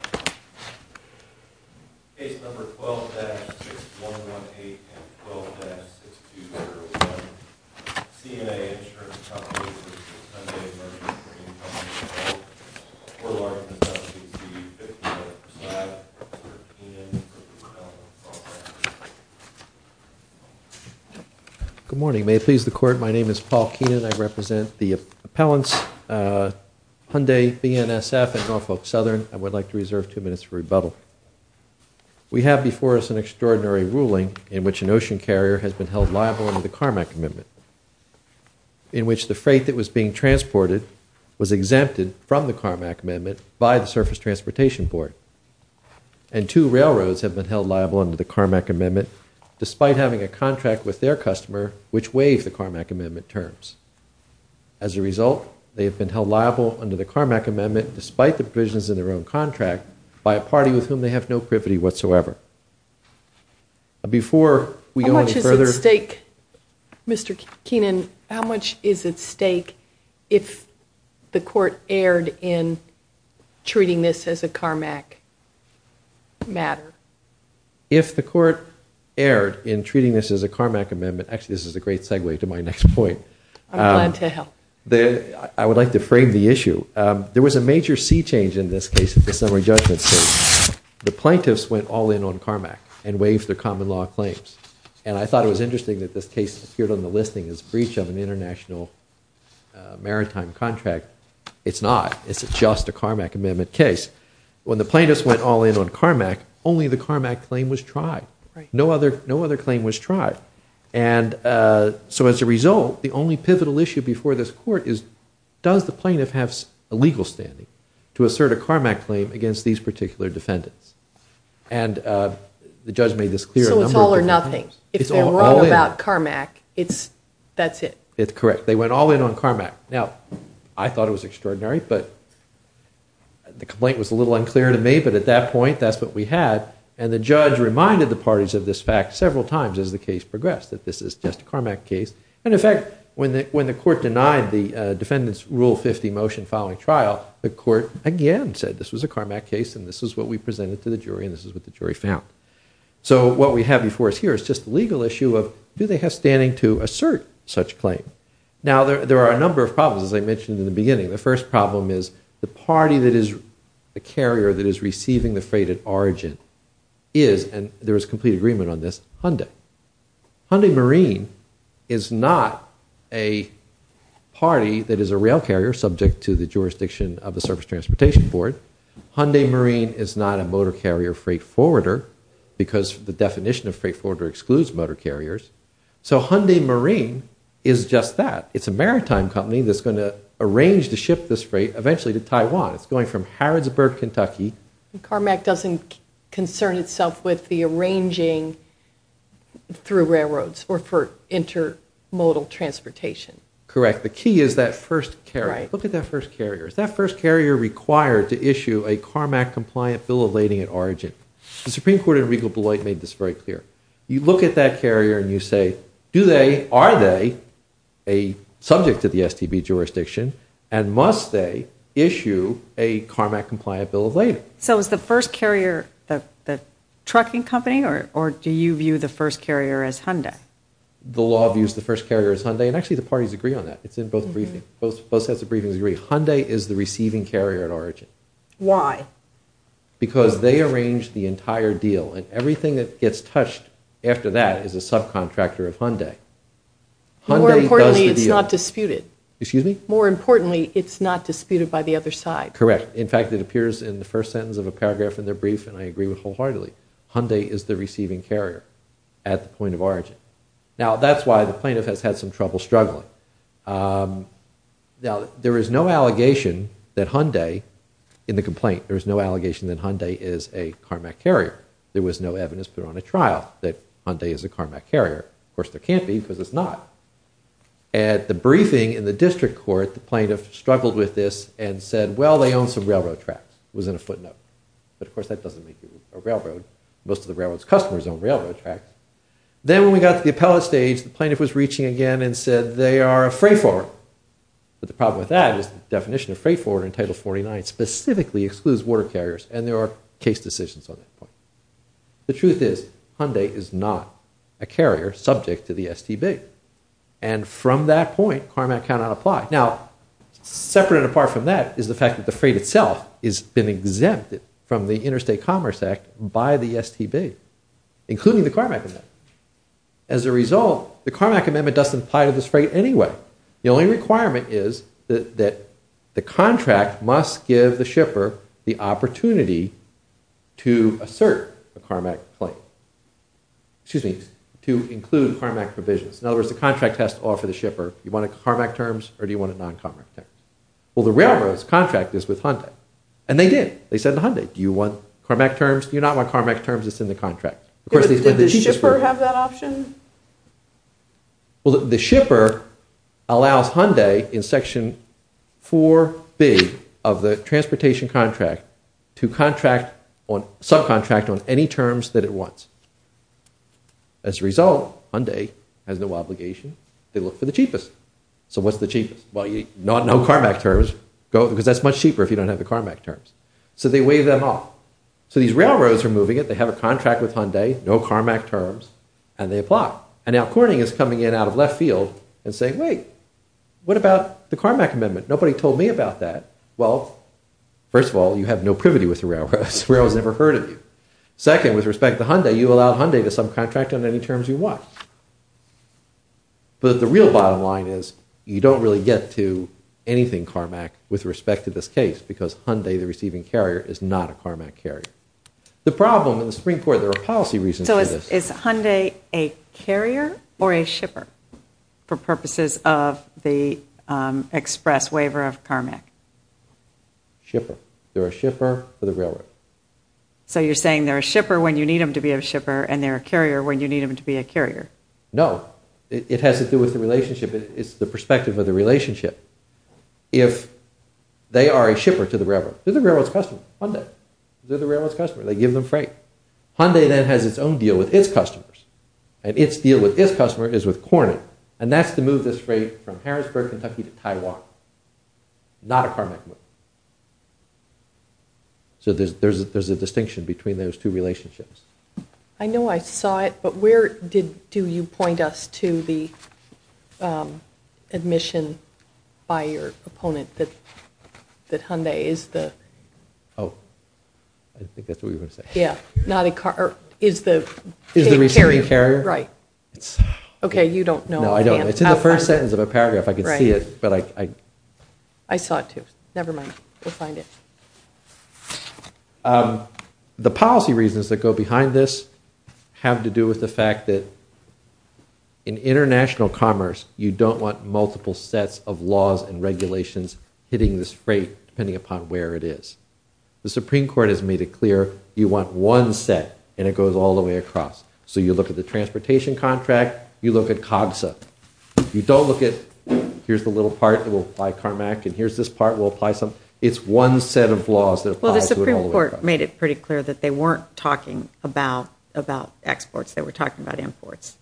for a large consultancy fee of $50.00 per slide with Rep. Keenan and Rep. Norfolk Southern. Good morning. May it please the Court, my name is Paul Keenan. I represent the appellants of Hyundai BNSF and Norfolk Southern. I would like to reserve two minutes for rebuttal. We have before us an extraordinary ruling in which an ocean carrier has been held liable under the Carmack Amendment, in which the freight that was being transported was exempted from the Carmack Amendment by the Surface Transportation Board. And two railroads have been held liable under the Carmack Amendment, despite having a contract with their customer which waives the Carmack Amendment terms. As a result, they have been held liable under the Carmack Amendment, despite the provisions in their own contract, by a party with whom they have no privity whatsoever. Before we go any further... How much is at stake, Mr. Keenan, how much is at stake if the Court erred in treating this as a Carmack matter? If the Court erred in treating this as a Carmack Amendment, actually this is a great segue to my next point. I would like to frame the issue. There was a major sea change in this case at the summary judgment stage. The plaintiffs went all in on Carmack and waived their common law claims. And I thought it was interesting that this case appeared on the listing as breach of an international maritime contract. It's not. It's just a Carmack Amendment case. When the plaintiffs went all in on Carmack, only the Carmack claim was tried. No other claim was tried. And so as a result, the only pivotal issue before this Court is, does the plaintiff have a legal standing to assert a Carmack claim against these particular defendants? And the judge made this clear a number of different times. So it's all or nothing. If they're wrong about Carmack, that's it. It's correct. They went all in on Carmack. Now, I thought it was extraordinary, but the case was a little unclear to me. But at that point, that's what we had. And the judge reminded the parties of this fact several times as the case progressed, that this is just a Carmack case. And in fact, when the Court denied the defendant's Rule 50 motion following trial, the Court again said this was a Carmack case and this is what we presented to the jury and this is what the jury found. So what we have before us here is just the legal issue of do they have standing to assert such claim? Now, there are a number of problems, as I said. One of them is the carrier that is receiving the freight at origin is, and there is complete agreement on this, Hyundai. Hyundai Marine is not a party that is a rail carrier, subject to the jurisdiction of the Surface Transportation Board. Hyundai Marine is not a motor carrier freight forwarder because the definition of freight forwarder excludes motor carriers. So Hyundai Marine is just that. It's a maritime company that's going to arrange to ship this freight eventually to Taiwan. It's going from Harrodsburg, Kentucky. Carmack doesn't concern itself with the arranging through railroads or for intermodal transportation. Correct. The key is that first carrier. Look at that first carrier. Is that first carrier required to issue a Carmack compliant bill of lading at origin? The Supreme Court in Regal Blight made this very clear. You look at that carrier and you say, do they, are they a subject to the STB jurisdiction, and must they issue a Carmack compliant bill of lading? So is the first carrier the trucking company, or do you view the first carrier as Hyundai? The law views the first carrier as Hyundai, and actually the parties agree on that. It's in both briefings. Both sets of briefings agree. Hyundai is the receiving carrier at origin. Why? Because they arrange the entire deal, and everything that gets touched after that is a subcontractor of Hyundai. More importantly, it's not disputed. Excuse me? More importantly, it's not disputed by the other side. Correct. In fact, it appears in the first sentence of a paragraph in their brief, and I agree with it wholeheartedly. Hyundai is the receiving carrier at the point of origin. Now, that's why the plaintiff has had some trouble struggling. Now, there is no allegation that Hyundai, in the complaint, there is no allegation that Hyundai is a Carmack carrier. There was no evidence put on a trial that Hyundai is a Carmack carrier. Of course, there can't be, because it's not. At the briefing in the district court, the plaintiff struggled with this and said, well, they own some railroad tracks. It was in a footnote. But of course, that doesn't make you a railroad. Most of the railroad's customers own railroad tracks. Then when we got to the appellate stage, the plaintiff was reaching again and said, they are a freight forwarder. But the problem with that is the definition of freight forwarder in Title 49 specifically excludes water carriers, and there are case decisions on that point. The truth is, Hyundai is not a carrier subject to the STB. And from that point, Carmack cannot apply. Now, separate and apart from that is the fact that the freight itself has been exempted from the Interstate Commerce Act by the STB, including the Carmack Amendment. As a result, the Carmack Amendment doesn't apply to this freight anyway. The only requirement is that the contract must give the shipper the opportunity to assert a Carmack claim, excuse me, to include Carmack provisions. In other words, the contract has to offer the shipper, you want it in Carmack terms or do you want it in non-Carmack terms? Well, the railroad's contract is with Hyundai. And they did. They said to Hyundai, do you want Carmack terms? Do you not want Carmack terms that's in the contract? Of course, these were the... Did the shipper have that option? Well, the shipper allows Hyundai in Section 4B of the Transportation Contract to use subcontract on any terms that it wants. As a result, Hyundai has no obligation. They look for the cheapest. So what's the cheapest? Well, no Carmack terms, because that's much cheaper if you don't have the Carmack terms. So they waive them off. So these railroads are moving it, they have a contract with Hyundai, no Carmack terms, and they apply. And now Corning is coming in out of left field and saying, wait, what about the Carmack Amendment? Nobody told me about that. Well, first of all, you have no privity with the railroads. Railroads never heard of you. Second, with respect to Hyundai, you allow Hyundai to subcontract on any terms you want. But the real bottom line is you don't really get to anything Carmack with respect to this case because Hyundai, the receiving carrier, is not a Carmack carrier. The problem in the Supreme Court, there are policy reasons for this. Is Hyundai a carrier or a shipper for purposes of the express waiver of Carmack? Shipper. They're a shipper for the railroad. So you're saying they're a shipper when you need them to be a shipper, and they're a carrier when you need them to be a carrier. No. It has to do with the relationship. It's the perspective of the relationship. If they are a shipper to the railroad, they're the railroad's customer. Hyundai. They're the railroad's customers. And its deal with its customer is with Corning. And that's to move this freight from Harrisburg, Kentucky, to Taiwan. Not a Carmack move. So there's a distinction between those two relationships. I know I saw it, but where do you point us to the admission by your opponent that Hyundai is the... Oh. I didn't think that's what you were going to say. Is the receiving carrier? Right. Okay, you don't know. No, I don't. It's in the first sentence of the paragraph. I can see it, but I... I saw it, too. Never mind. We'll find it. The policy reasons that go behind this have to do with the fact that in international commerce, you don't want multiple sets of laws and regulations hitting this freight, depending upon where it is. The Supreme Court has made it clear, you want one set, and it goes all the way across. So you look at the transportation contract, you look at COGSA. You don't look at, here's the little part that will apply Carmack, and here's this part will apply some... It's one set of laws that applies to it all the way across. Well, the Supreme Court made it pretty clear that they weren't talking about exports. They were talking about imports.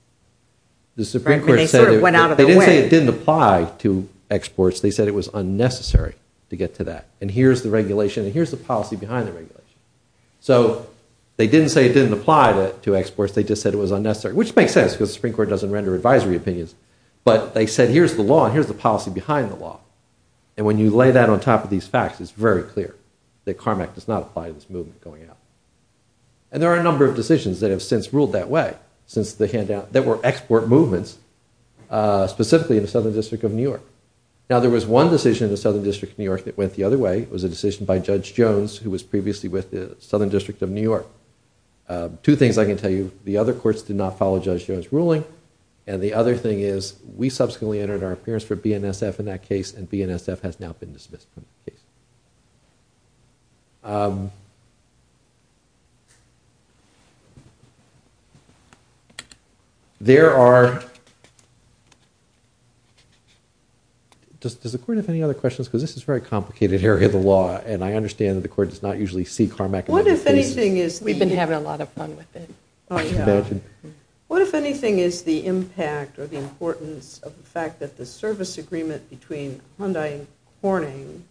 They sort of went out of their way. They didn't say it didn't apply to exports. They said it was unnecessary to get to that. And here's the regulation, and here's the policy behind the regulation. So they didn't say it didn't apply to exports. They just said it was unnecessary. Which makes sense, because the Supreme Court doesn't render advisory opinions. But they said, here's the law, and here's the policy behind the law. And when you lay that on top of these facts, it's very clear that Carmack does not apply to this movement going out. And there are a number of decisions that have since ruled that way. There were export movements, specifically in the Southern District of New York. Now, there was one decision in the Southern District of New York that went the other way. It was a decision by Judge Jones, who was previously with the Southern District of New York. Two things I can tell you. The other courts did not follow Judge Jones' ruling. And the other thing is, we subsequently entered our appearance for BNSF in that case, and BNSF has now been dismissed from the case. There are... Does the court have any other questions? Because this is a very complicated area of the law. And I understand that the court does not usually see Carmack in those cases. We've been having a lot of fun with it. What, if anything, is the impact or the importance of the fact that the service agreement between Hyundai and Corning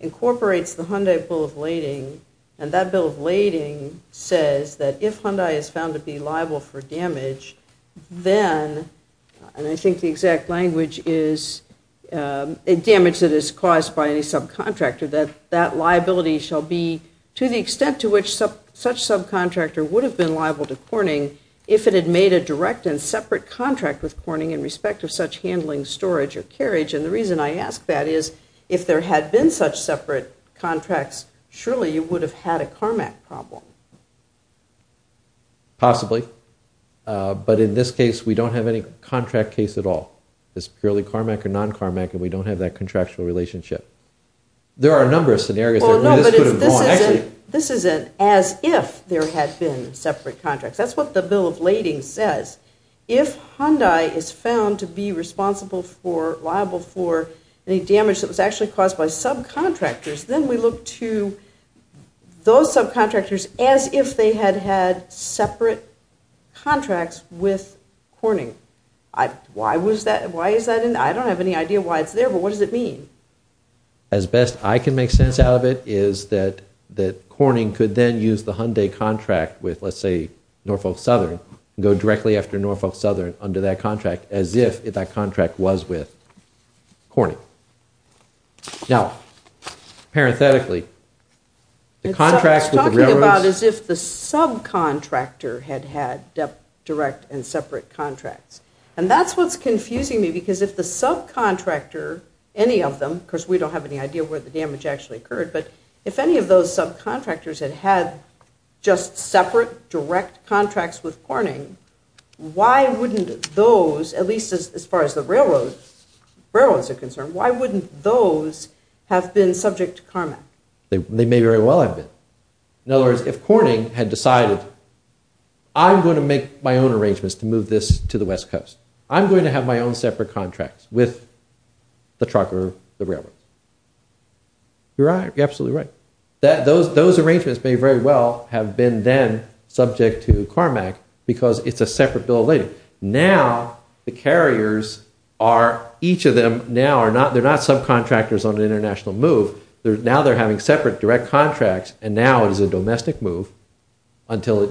incorporates the Hyundai Bill of Lading, and that Bill of Lading says that if Hyundai is found to be liable for damage, then, and I think the exact language is damage that is caused by any subcontractor, that that liability shall be to the extent to which such subcontractor would have been liable to Corning if it had made a direct and separate contract with Corning in respect of such handling, storage, or carriage. And the reason I ask that is, if there had been such separate contracts, surely you would have had a Carmack problem. Possibly. But in this case, we don't have any contract case at all. It's purely Carmack or non-Carmack and we don't have that contractual relationship. There are a number of scenarios where this could have gone. This isn't as if there had been separate contracts. That's what the Bill of Lading says. If Hyundai is found to be responsible for, liable for, any damage that was actually caused by subcontractors, then we look to those subcontractors as if they had had separate contracts with Corning. Why is that? I don't have any idea why it's there, but what does it mean? As best I can make sense out of it is that Corning could then use the Hyundai contract with, let's say, Norfolk Southern and go directly after Norfolk Southern under that contract as if that contract was with Corning. Now, parenthetically, it's talking about as if the subcontractor had had direct and separate contracts. And that's what's confusing me because if the subcontractor, any of them, because we don't have any idea where the damage actually occurred, but if any of those subcontractors had had just separate, direct contracts with Corning, why wouldn't those, at least as far as the railroads are concerned, why wouldn't those have been subject to CARMAC? They may very well have been. In other words, if Corning had decided I'm going to make my own arrangements to move this to the west coast. I'm going to have my own separate contracts with the trucker, the railroads. You're absolutely right. Those arrangements may very well have been then subject to CARMAC because it's a separate bill of lading. Now, the carriers are, each of them now, they're not subcontractors on an international move. Now they're having separate direct contracts and now it is a domestic move until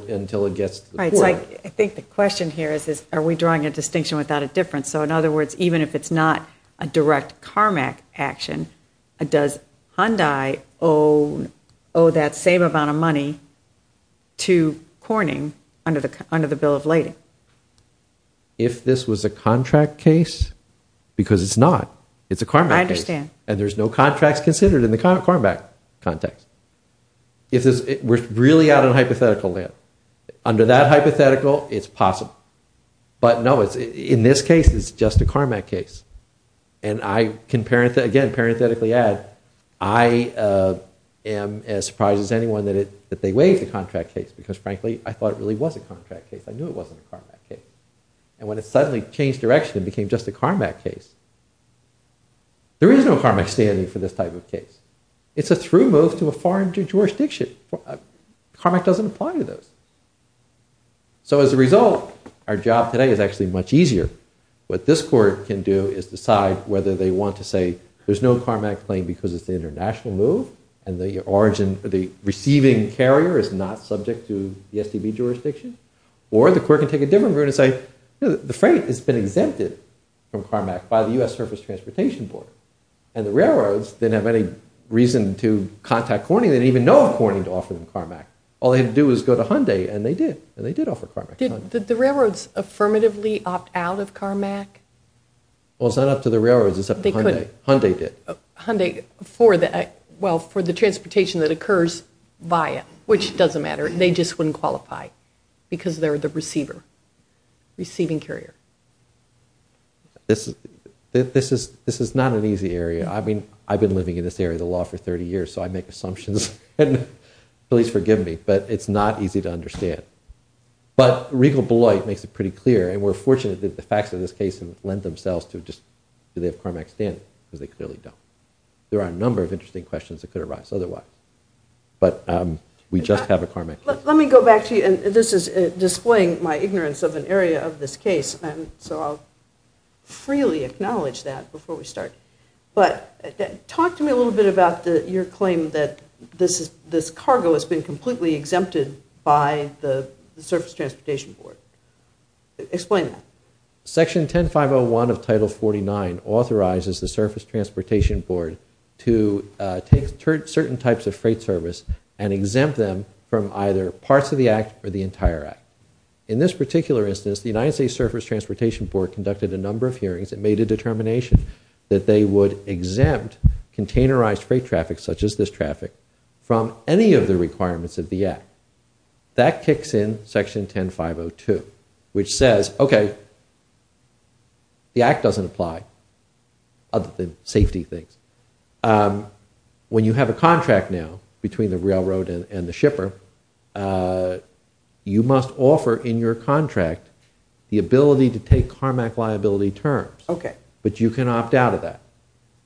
it gets to the port. I think the question here is are we drawing a distinction without a difference? So in other words, even if it's not a direct CARMAC action, does Hyundai owe that same amount of money to Corning under the bill of lading? If this was a contract case, because it's not. It's a CARMAC case. And there's no contracts considered in the CARMAC context. We're really out on hypothetical land. Under that hypothetical, it's possible. But no, in this case, it's just a CARMAC case. And I can, again, parenthetically add, I am as surprised as anyone that they waived the contract case. Because frankly, I thought it really was a contract case. I knew it wasn't a CARMAC case. And when it suddenly changed direction and became just a CARMAC case, there is no CARMAC standing for this type of case. It's a through move to a foreign jurisdiction. CARMAC doesn't apply to those. So as a result, our job today is actually much easier. What this court can do is decide whether they want to say there's no CARMAC claim because it's an international move and the receiving carrier is not subject to the SDB jurisdiction. Or the court can take a different route and say, the freight has been exempted from CARMAC by the U.S. Surface Transportation Board. And the railroads didn't have any reason to contact Corning. They didn't even know of Corning to offer them CARMAC. All they had to do was go to Hyundai, and they did. And they did offer CARMAC. Did the railroads affirmatively opt out of CARMAC? Well, it's not up to the railroads. It's up to Hyundai. Hyundai did. Hyundai for the, well, for the transportation that occurs via, which doesn't matter. They just wouldn't qualify because they're the receiver, receiving carrier. This is not an easy area. I mean, I've been living in this area of the law for 30 years, so I make assumptions. And please forgive me. But it's not easy to understand. But Regal Beloit makes it pretty clear, and we're fortunate that the facts of this case lend themselves to just, do they have CARMAC standing? Because they clearly don't. There are a number of interesting questions that could arise otherwise. But we just have a CARMAC case. Let me go back to you, and this is displaying my ignorance of an area of this case. So I'll freely acknowledge that before we start. But talk to me a little bit about your claim that this cargo has been completely exempted by the Surface Transportation Board. Explain that. Section 10501 of Title 49 authorizes the Surface Transportation Board to take certain types of freight service and exempt them from either parts of the Act or the entire Act. In this particular instance, the United States Surface Transportation Board conducted a number of hearings and made a determination that they would exempt containerized freight traffic, such as this traffic, from any of the requirements of the Act. That kicks in Section 10502, which says, okay, the Act doesn't apply other than safety things. When you have a contract now between the railroad and the shipper, you must offer in your contract the ability to take CARMAC liability terms. But you can opt out of that.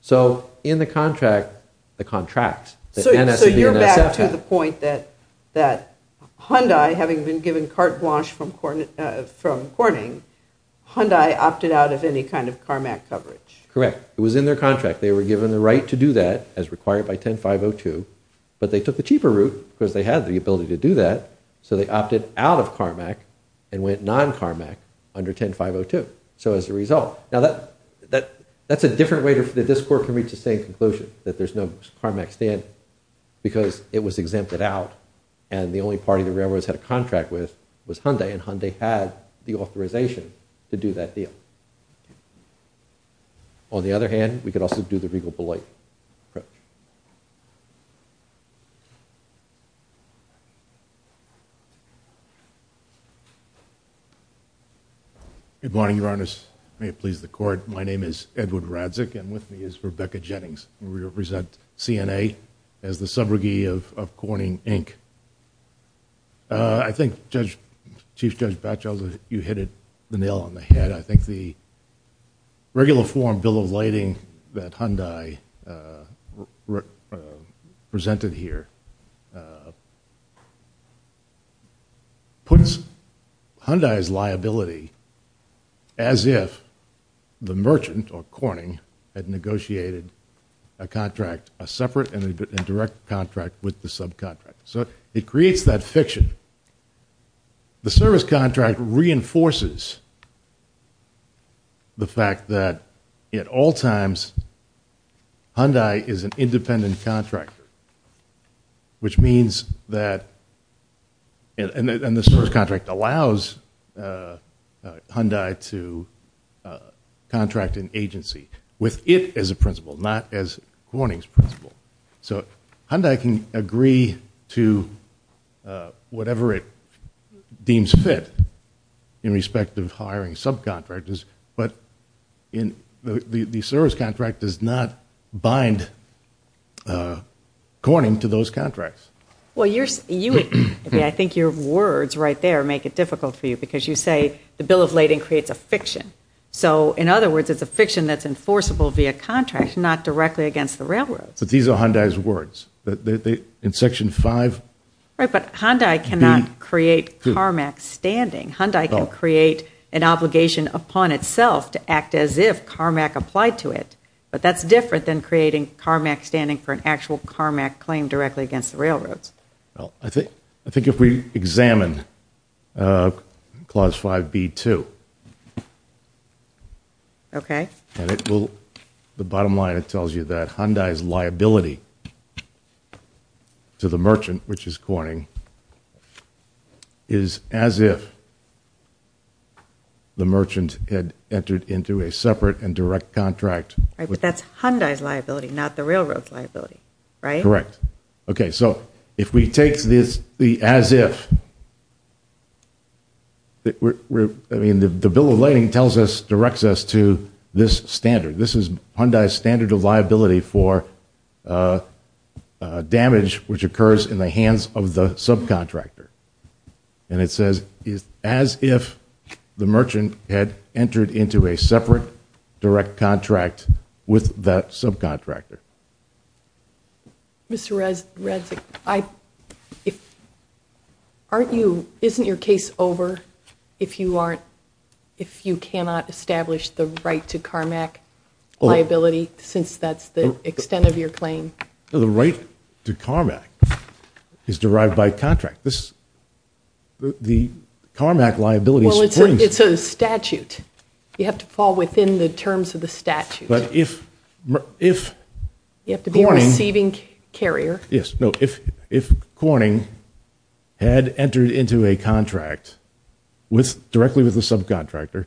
So in the contract, the contracts, that NSC and NSF have. So you're back to the point that Hyundai, having been given carte blanche from Corning, Hyundai opted out of any kind of CARMAC coverage. Correct. It was in their contract. They were given the right to do that, as required by 10502, but they took the cheaper route, because they had the ability to do that, so they opted out of CARMAC and went non-CARMAC under 10502. So as a result. Now that's a different way that this court can reach the same conclusion, that there's no CARMAC stand, because it was exempted out, and the only party the railroads had a contract with was Hyundai, and Hyundai had the authorization to do that deal. On the other hand, we could also do the Regal Beloit approach. Good morning, Your Honor. May it please the court. My name is Edward Radzic, and with me is Rebecca Jennings. We represent CNA as the subrogee of Corning Inc. I think, Chief Judge Batchelder, you hit the nail on the head. I think the regular form bill of lading that Hyundai presented here puts Hyundai's liability as if the merchant, or Corning, had negotiated a contract, a separate and direct contract with the subcontractor. So it creates that fiction. The service contract reinforces the fact that at all times, Hyundai is an independent contractor, which means that, and the service contract allows Hyundai to contract an individual, not as Corning's principal. So Hyundai can agree to whatever it deems fit in respect of hiring subcontractors, but the service contract does not bind Corning to those contracts. I think your words right there make it difficult for you, because you say the bill of lading creates a fiction. So, in other words, it's a fiction that's enforceable via contract, not directly against the railroads. But these are Hyundai's words. In Section 5B2. Right, but Hyundai cannot create CARMAC standing. Hyundai can create an obligation upon itself to act as if CARMAC applied to it. But that's different than creating CARMAC standing for an actual CARMAC claim directly against the railroads. Well, I think if we examine Clause 5B2. Okay. The bottom line, it tells you that Hyundai's liability to the merchant, which is Corning, is as if the merchant had entered into a separate and direct contract. Right, but that's Hyundai's liability not the railroad's liability, right? Correct. Okay, so if we take the as if I mean, the bill of lading directs us to this standard. This is Hyundai's standard of liability for damage which occurs in the hands of the subcontractor. And it says, as if the merchant had entered into a separate direct contract with that subcontractor. Mr. Radzig, I aren't you, isn't your case over if you aren't, if you cannot establish the right to CARMAC liability since that's the extent of your claim? The right to CARMAC is derived by contract. This, the CARMAC liability Well, it's a statute. You have to fall within the terms of the statute. But if, if, you have to be a receiving carrier. Yes, no, if Corning had entered into a contract with, directly with the subcontractor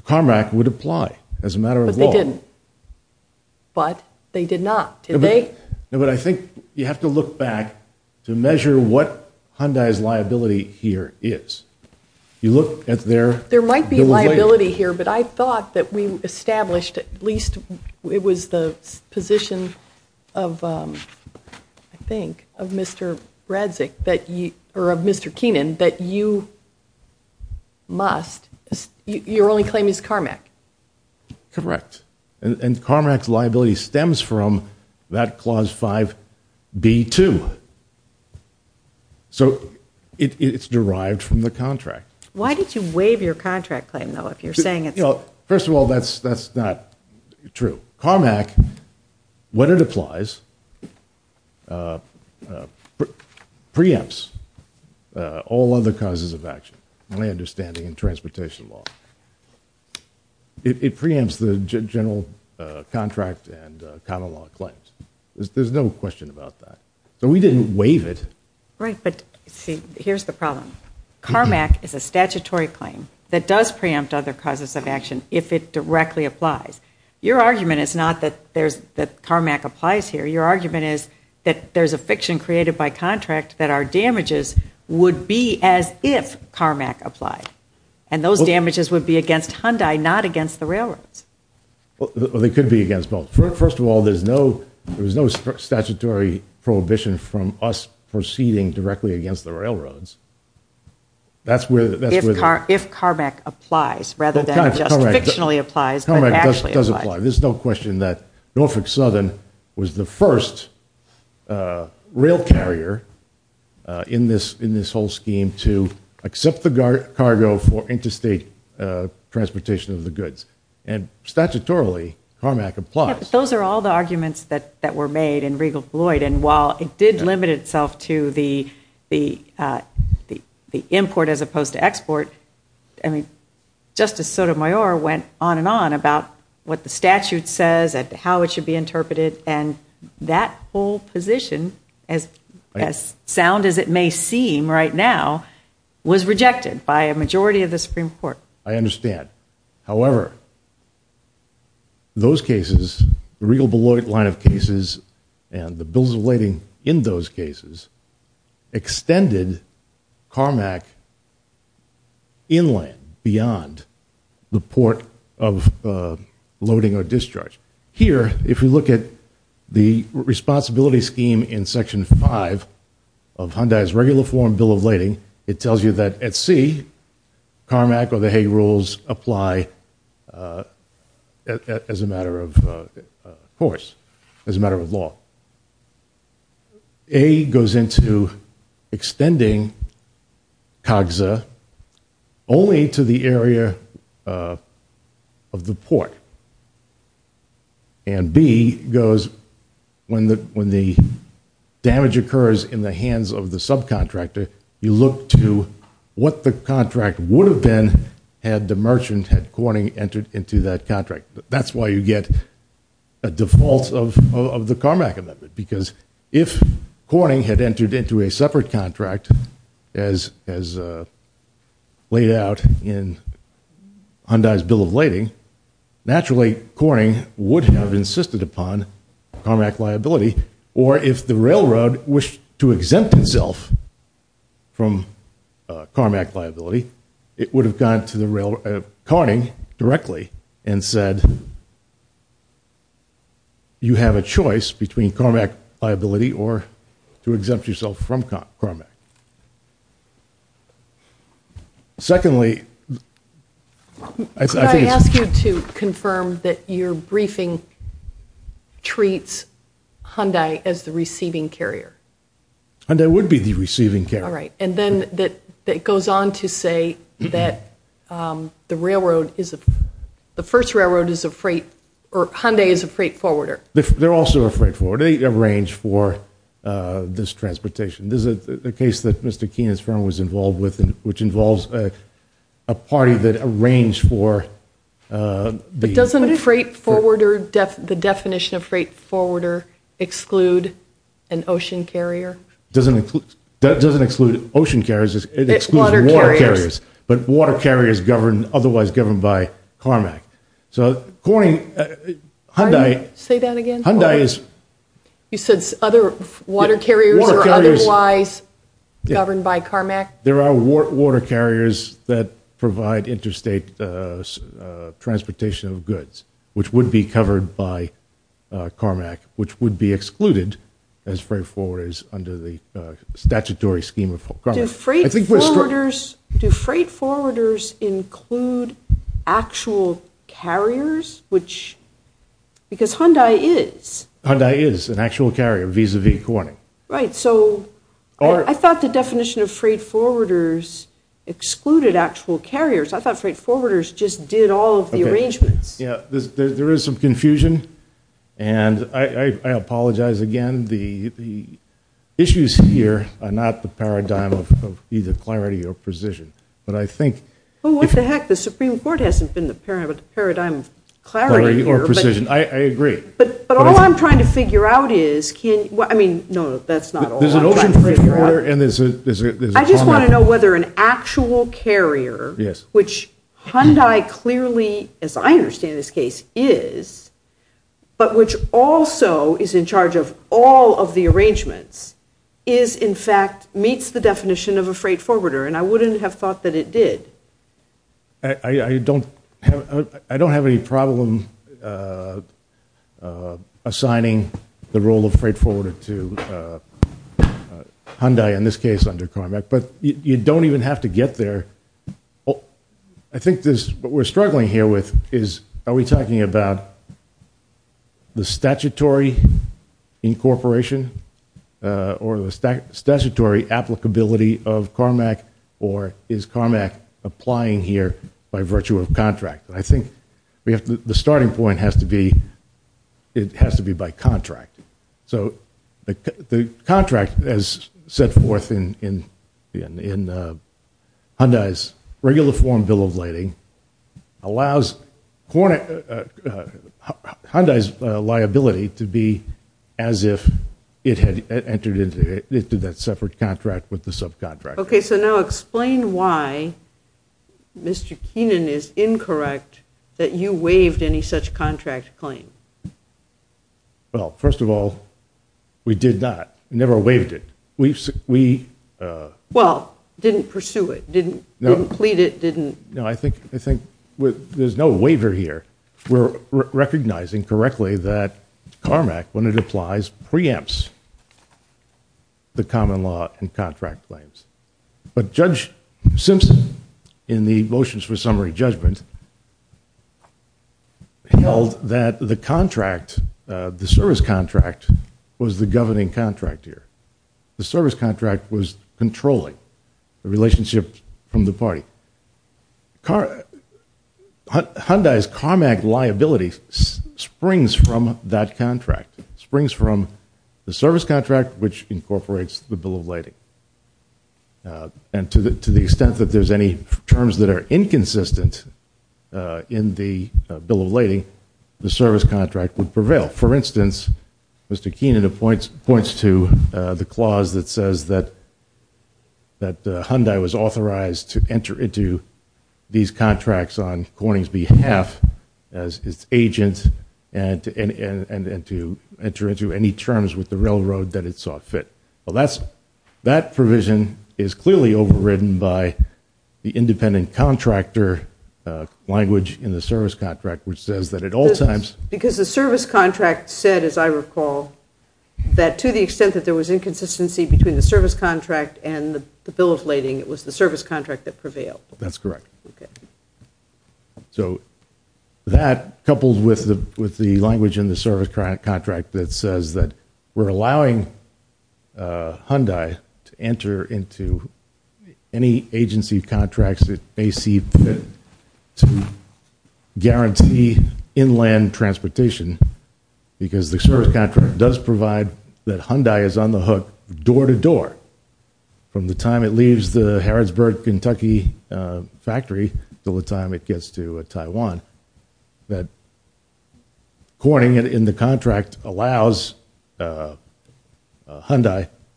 CARMAC would apply as a matter of law. But they didn't. But they did not. Did they? No, but I think you have to look back to measure what Hyundai's liability here is. You look at their There might be liability here, but I thought that we established at least it was the position of, I think of Mr. Radzig that you, or of Mr. Keenan that you must, your only claim is CARMAC. Correct. And CARMAC's liability stems from that clause 5b2. So, it's derived from the contract. Why did you waive your contract claim though if you're saying it's First of all, that's not true. CARMAC, what it applies preempts all other causes of action. My understanding in transportation law. It preempts the general contract and common law claims. There's no question about that. So we didn't waive it. Right, but see, here's the problem. CARMAC is a statutory claim that does preempt other causes of action if it directly applies. Your argument is not that CARMAC applies here. Your argument is that there's a fiction created by contract that our damages would be as if CARMAC applied. And those damages would be against Hyundai, not against the railroads. Well, they could be against both. First of all, there's no statutory prohibition from us proceeding directly against the railroads. That's where If CARMAC applies rather than just fictionally applies CARMAC does apply. There's no question that Norfolk Southern was the first rail carrier in this whole scheme to accept the cargo for interstate transportation of the goods. And statutorily CARMAC applies. Those are all the arguments that were made in Regal Floyd and while it did limit itself to the import as opposed to export Justice Sotomayor went on and on about what the statute says and how it should be interpreted and that whole position as sound as it may seem right now was rejected by a majority of the Supreme Court. I understand. However, those cases the Regal Floyd line of cases and the bills relating in those cases extended CARMAC inland beyond the port of loading or discharge. Here, if we look at the responsibility scheme in section 5 of Hyundai's regular form bill of lading, it tells you that at C CARMAC or the Hay Rules apply as a matter of course, as a matter of law. A goes into extending COGSA only to the area of the port. And B goes when the damage occurs in the hands of the subcontractor, you look to what the contract would have been had the merchant had Corning entered into that contract. That's why you get a default of the CARMAC amendment because if Corning had entered into a separate contract as laid out in Hyundai's bill of lading, naturally Corning would have insisted upon CARMAC liability or if the railroad wished to exempt itself from CARMAC liability, it would have gone to Corning directly and said you have a choice between CARMAC liability or to exempt yourself from CARMAC. Secondly, I think it's... Could I ask you to confirm that your briefing treats Hyundai as the receiving carrier? Hyundai would be the receiving carrier. Alright, and then it goes on to say that the railroad is... The first railroad is a freight or Hyundai is a freight forwarder. They're also a freight forwarder. They arrange for this transportation. This is a case that Mr. Keenan's firm was involved with which involves a party that arranged for... But doesn't freight forwarder the definition of freight forwarder exclude an ocean carrier? Doesn't exclude ocean carriers, it excludes water carriers. But water carriers otherwise governed by CARMAC. So Corning, Hyundai... Say that again? Hyundai is... You said other water carriers or otherwise governed by CARMAC? There are water carriers that provide interstate transportation of goods which would be covered by CARMAC which would be excluded as freight forwarders under the statutory scheme of CARMAC. Do freight forwarders include actual carriers? Because Hyundai is. Hyundai is an actual carrier vis-a-vis Corning. Right, so I thought the definition of freight forwarders excluded actual carriers. I thought freight forwarders just did all of the arrangements. There is some confusion and I apologize again. The paradigm of either clarity or precision. What the heck? The Supreme Court hasn't been the paradigm of clarity or precision. I agree. But all I'm trying to figure out is can... No, that's not all I'm trying to figure out. I just want to know whether an actual carrier which Hyundai clearly, as I understand this case, is but which also is in charge of all of the arrangements is in fact meets the definition of a freight forwarder and I wouldn't have thought that it did. I don't have any problem assigning the role of freight forwarder to Hyundai in this case under CARMAC. But you don't even have to get there. I think what we're struggling here with is are we talking about the statutory incorporation or the statutory applicability of CARMAC or is CARMAC applying here by virtue of contract? I think the starting point has to be by contract. So the contract as set forth in Hyundai's regular form bill of lading allows Hyundai's liability to be as if it had entered into that separate contract with the subcontractor. Okay, so now explain why Mr. Keenan is incorrect that you waived any such contract claim. Well, first of all we did not. We never waived it. Well, didn't pursue it. Didn't plead it. Didn't... No, I think there's no waiver here. We're recognizing correctly that CARMAC when it applies preempts the common law and contract claims. But Judge Simpson in the motions for summary judgment held that the contract the service contract was the governing contract here. The service contract was controlling the relationship from the party. Hyundai's CARMAC liability springs from that contract. Springs from the service contract which incorporates the bill of lading. And to the extent that there's any terms that are inconsistent in the bill of lading, the service contract would prevail. For instance, Mr. Keenan points to the clause that says that Hyundai was authorized to enter into these contracts on Corning's behalf as its agent and to enter into any terms with the railroad that it saw fit. Well, that provision is clearly overridden by the independent contractor language in the service contract which says that at all times... Because the service contract said as I recall, that to the extent that there was inconsistency between the bill of lading, it was the service contract that prevailed. That's correct. So that, coupled with the language in the service contract that says that we're allowing Hyundai to enter into any agency contracts it may see fit to guarantee inland transportation because the service contract does provide that Hyundai is on the hook door to door from the time it leaves the Harrodsburg, Kentucky factory until the time it gets to Taiwan. Corning, in the contract, allows Hyundai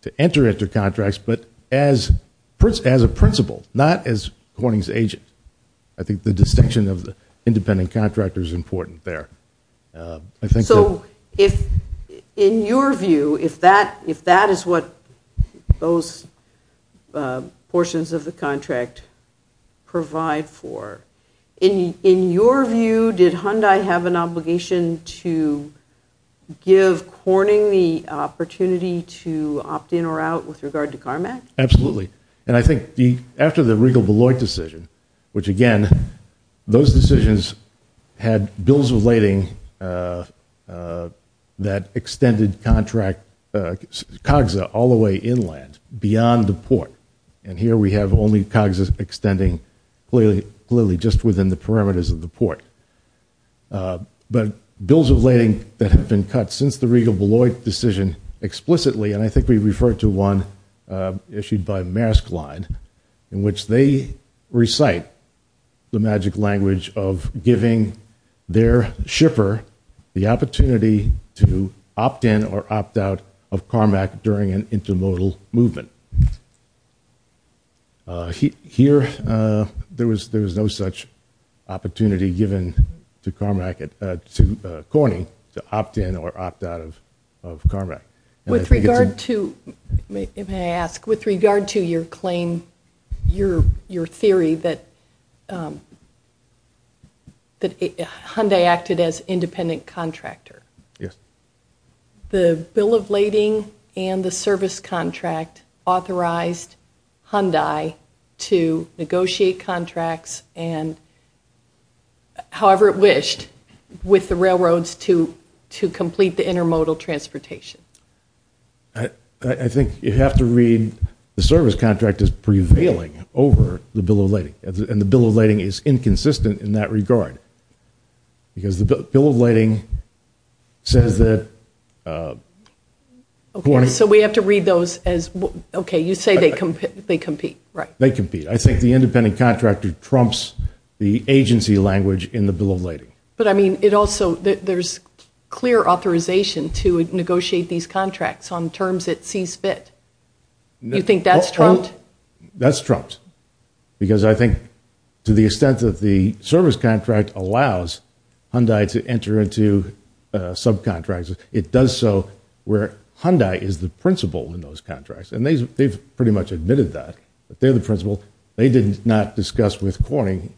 to enter into contracts but as a principal, not as Corning's agent. I think the distinction of the independent contractor is important there. So, in your view, if that is what those portions of the contract provide for, in your view, did Hyundai have an obligation to give Corning the opportunity to opt in or out with regard to Carmack? Absolutely. And I think after the Regal-Beloit decision, which again, those decisions had bills of lading that extended contract, COGSA, all the way inland, beyond the port. And here we have only COGSA extending clearly just within the perimeters of the port. But bills of lading that have been cut since the Regal-Beloit decision explicitly, and I think we referred to one issued by Maersk Line in which they recite the magic language of giving their shipper the opportunity to opt in or opt out of Carmack during an intermodal movement. Here, there was no such opportunity given to Corning to opt in or opt out of Carmack. With regard to, may I ask, with regard to your claim, your theory, that Hyundai acted as independent contractor. Yes. The bill of lading and the service contract authorized Hyundai to negotiate contracts and however it wished, with the railroads to complete the intermodal transportation. I think you have to read the service contract as prevailing over the bill of lading. And the bill of lading is inconsistent in that regard. Because the bill of lading says that Okay, so we have to read those as okay, you say they compete, right? They compete. I think the independent contractor trumps the agency language in the bill of lading. But I mean, it also, there's clear authorization to negotiate these contracts on terms it sees fit. You think that's trumped? That's trumped. Because I think to the extent that the service contract allows Hyundai to enter into subcontracts, it does so where Hyundai is the principal in those contracts. And they've pretty much admitted that. They're the principal. They did not discuss with Corning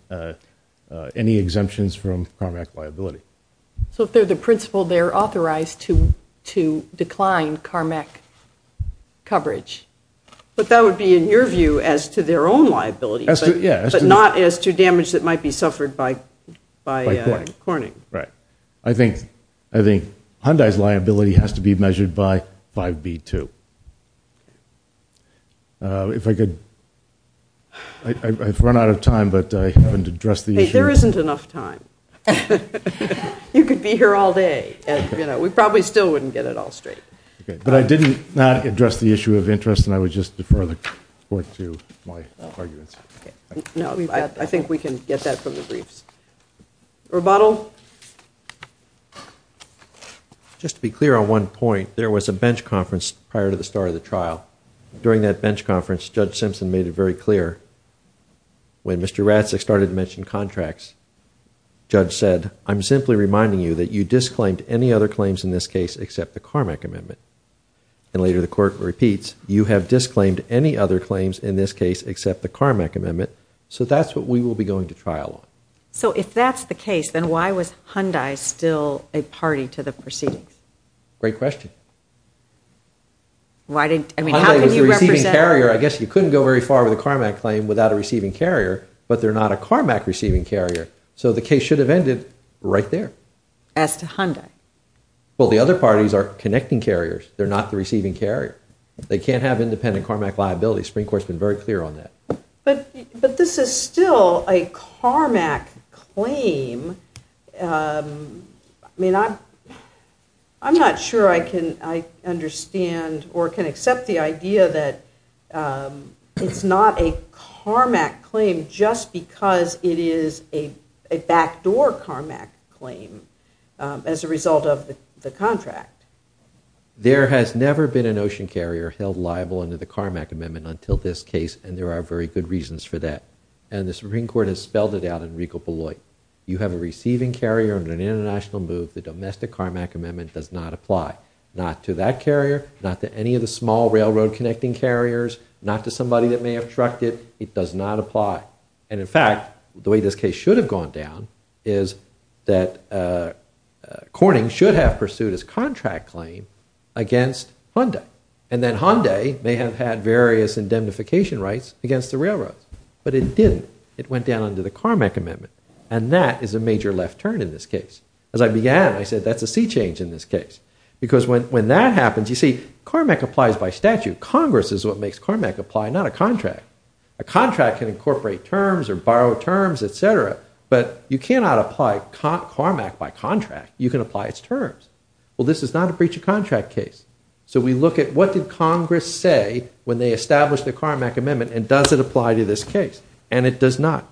any exemptions from Carmack liability. So if they're the principal, they're authorized to decline Carmack coverage. But that would be, in your view, as to damage that might be suffered by Corning. I think Hyundai's liability has to be measured by 5B2. If I could, I've run out of time, but I haven't addressed the issue. Hey, there isn't enough time. You could be here all day. We probably still wouldn't get it all straight. But I did not address the issue of interest and I would just defer the court to my arguments. No, I think we can get that from the briefs. Rebuttal? Just to be clear on one point, there was a bench conference prior to the start of the trial. During that bench conference, Judge Simpson made it very clear when Mr. Ratzak started to mention contracts Judge said, I'm simply reminding you that you disclaimed any other claims in this case except the Carmack amendment. And later the court repeats you have disclaimed any other claims in this case except the Carmack amendment. So that's what we will be going to trial on. So if that's the case, then why was Hyundai still a party to the proceedings? Great question. Hyundai was the receiving carrier. I guess you couldn't go very far with a Carmack claim without a receiving carrier. But they're not a Carmack receiving carrier. So the case should have ended right there. As to Hyundai? Well, the other parties are connecting carriers. They're not the receiving carrier. They can't have independent Carmack liability. The Supreme Court's been very clear on that. But this is still a Carmack claim. I'm not sure I can understand or can accept the idea that it's not a Carmack claim just because it is a backdoor Carmack claim as a result of the contract. There has never been an ocean carrier held liable under the Carmack amendment until this case. And there are very good reasons for that. And the Supreme Court has spelled it out in Regal Beloit. You have a receiving carrier under an international move. The domestic Carmack amendment does not apply. Not to that carrier. Not to any of the small railroad connecting carriers. Not to somebody that may have trucked it. It does not apply. And in fact, the way this case should have gone down is that Corning should have pursued his contract claim against Hyundai. And then Hyundai may have had various indemnification rights against the railroads. But it didn't. It went down under the Carmack amendment. And that is a major left turn in this case. As I began, I said that's a sea change in this case. Because when that happens, you see, Carmack applies by statute. Congress is what makes Carmack apply, not a contract. A contract can incorporate terms or borrow terms, etc. But you cannot apply Carmack by contract. You can apply its terms. Well, this is not a breach of contract case. So we look at what did Congress say when they established the Carmack amendment, and does it apply to this case? And it does not.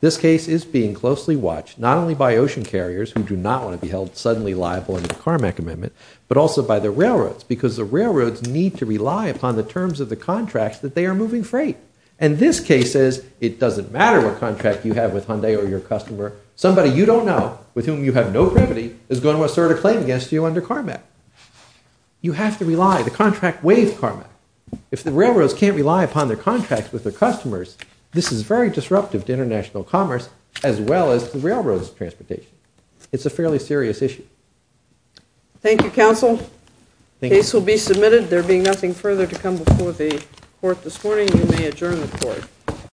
This case is being closely watched, not only by ocean carriers who do not want to be held suddenly liable under the Carmack amendment, but also by the railroads. Because the railroads need to rely upon the terms of the contracts that they are moving freight. And this case says, it doesn't matter what contract you have with Hyundai or your customer, somebody you don't know, with whom you have no is going to assert a claim against you under Carmack. You have to rely. The contract waives Carmack. If the railroads can't rely upon their contracts with their customers, this is very disruptive to international commerce, as well as the railroads' transportation. It's a fairly serious issue. Thank you, counsel. The case will be submitted. There being nothing further to come before the court this morning, you may adjourn the court.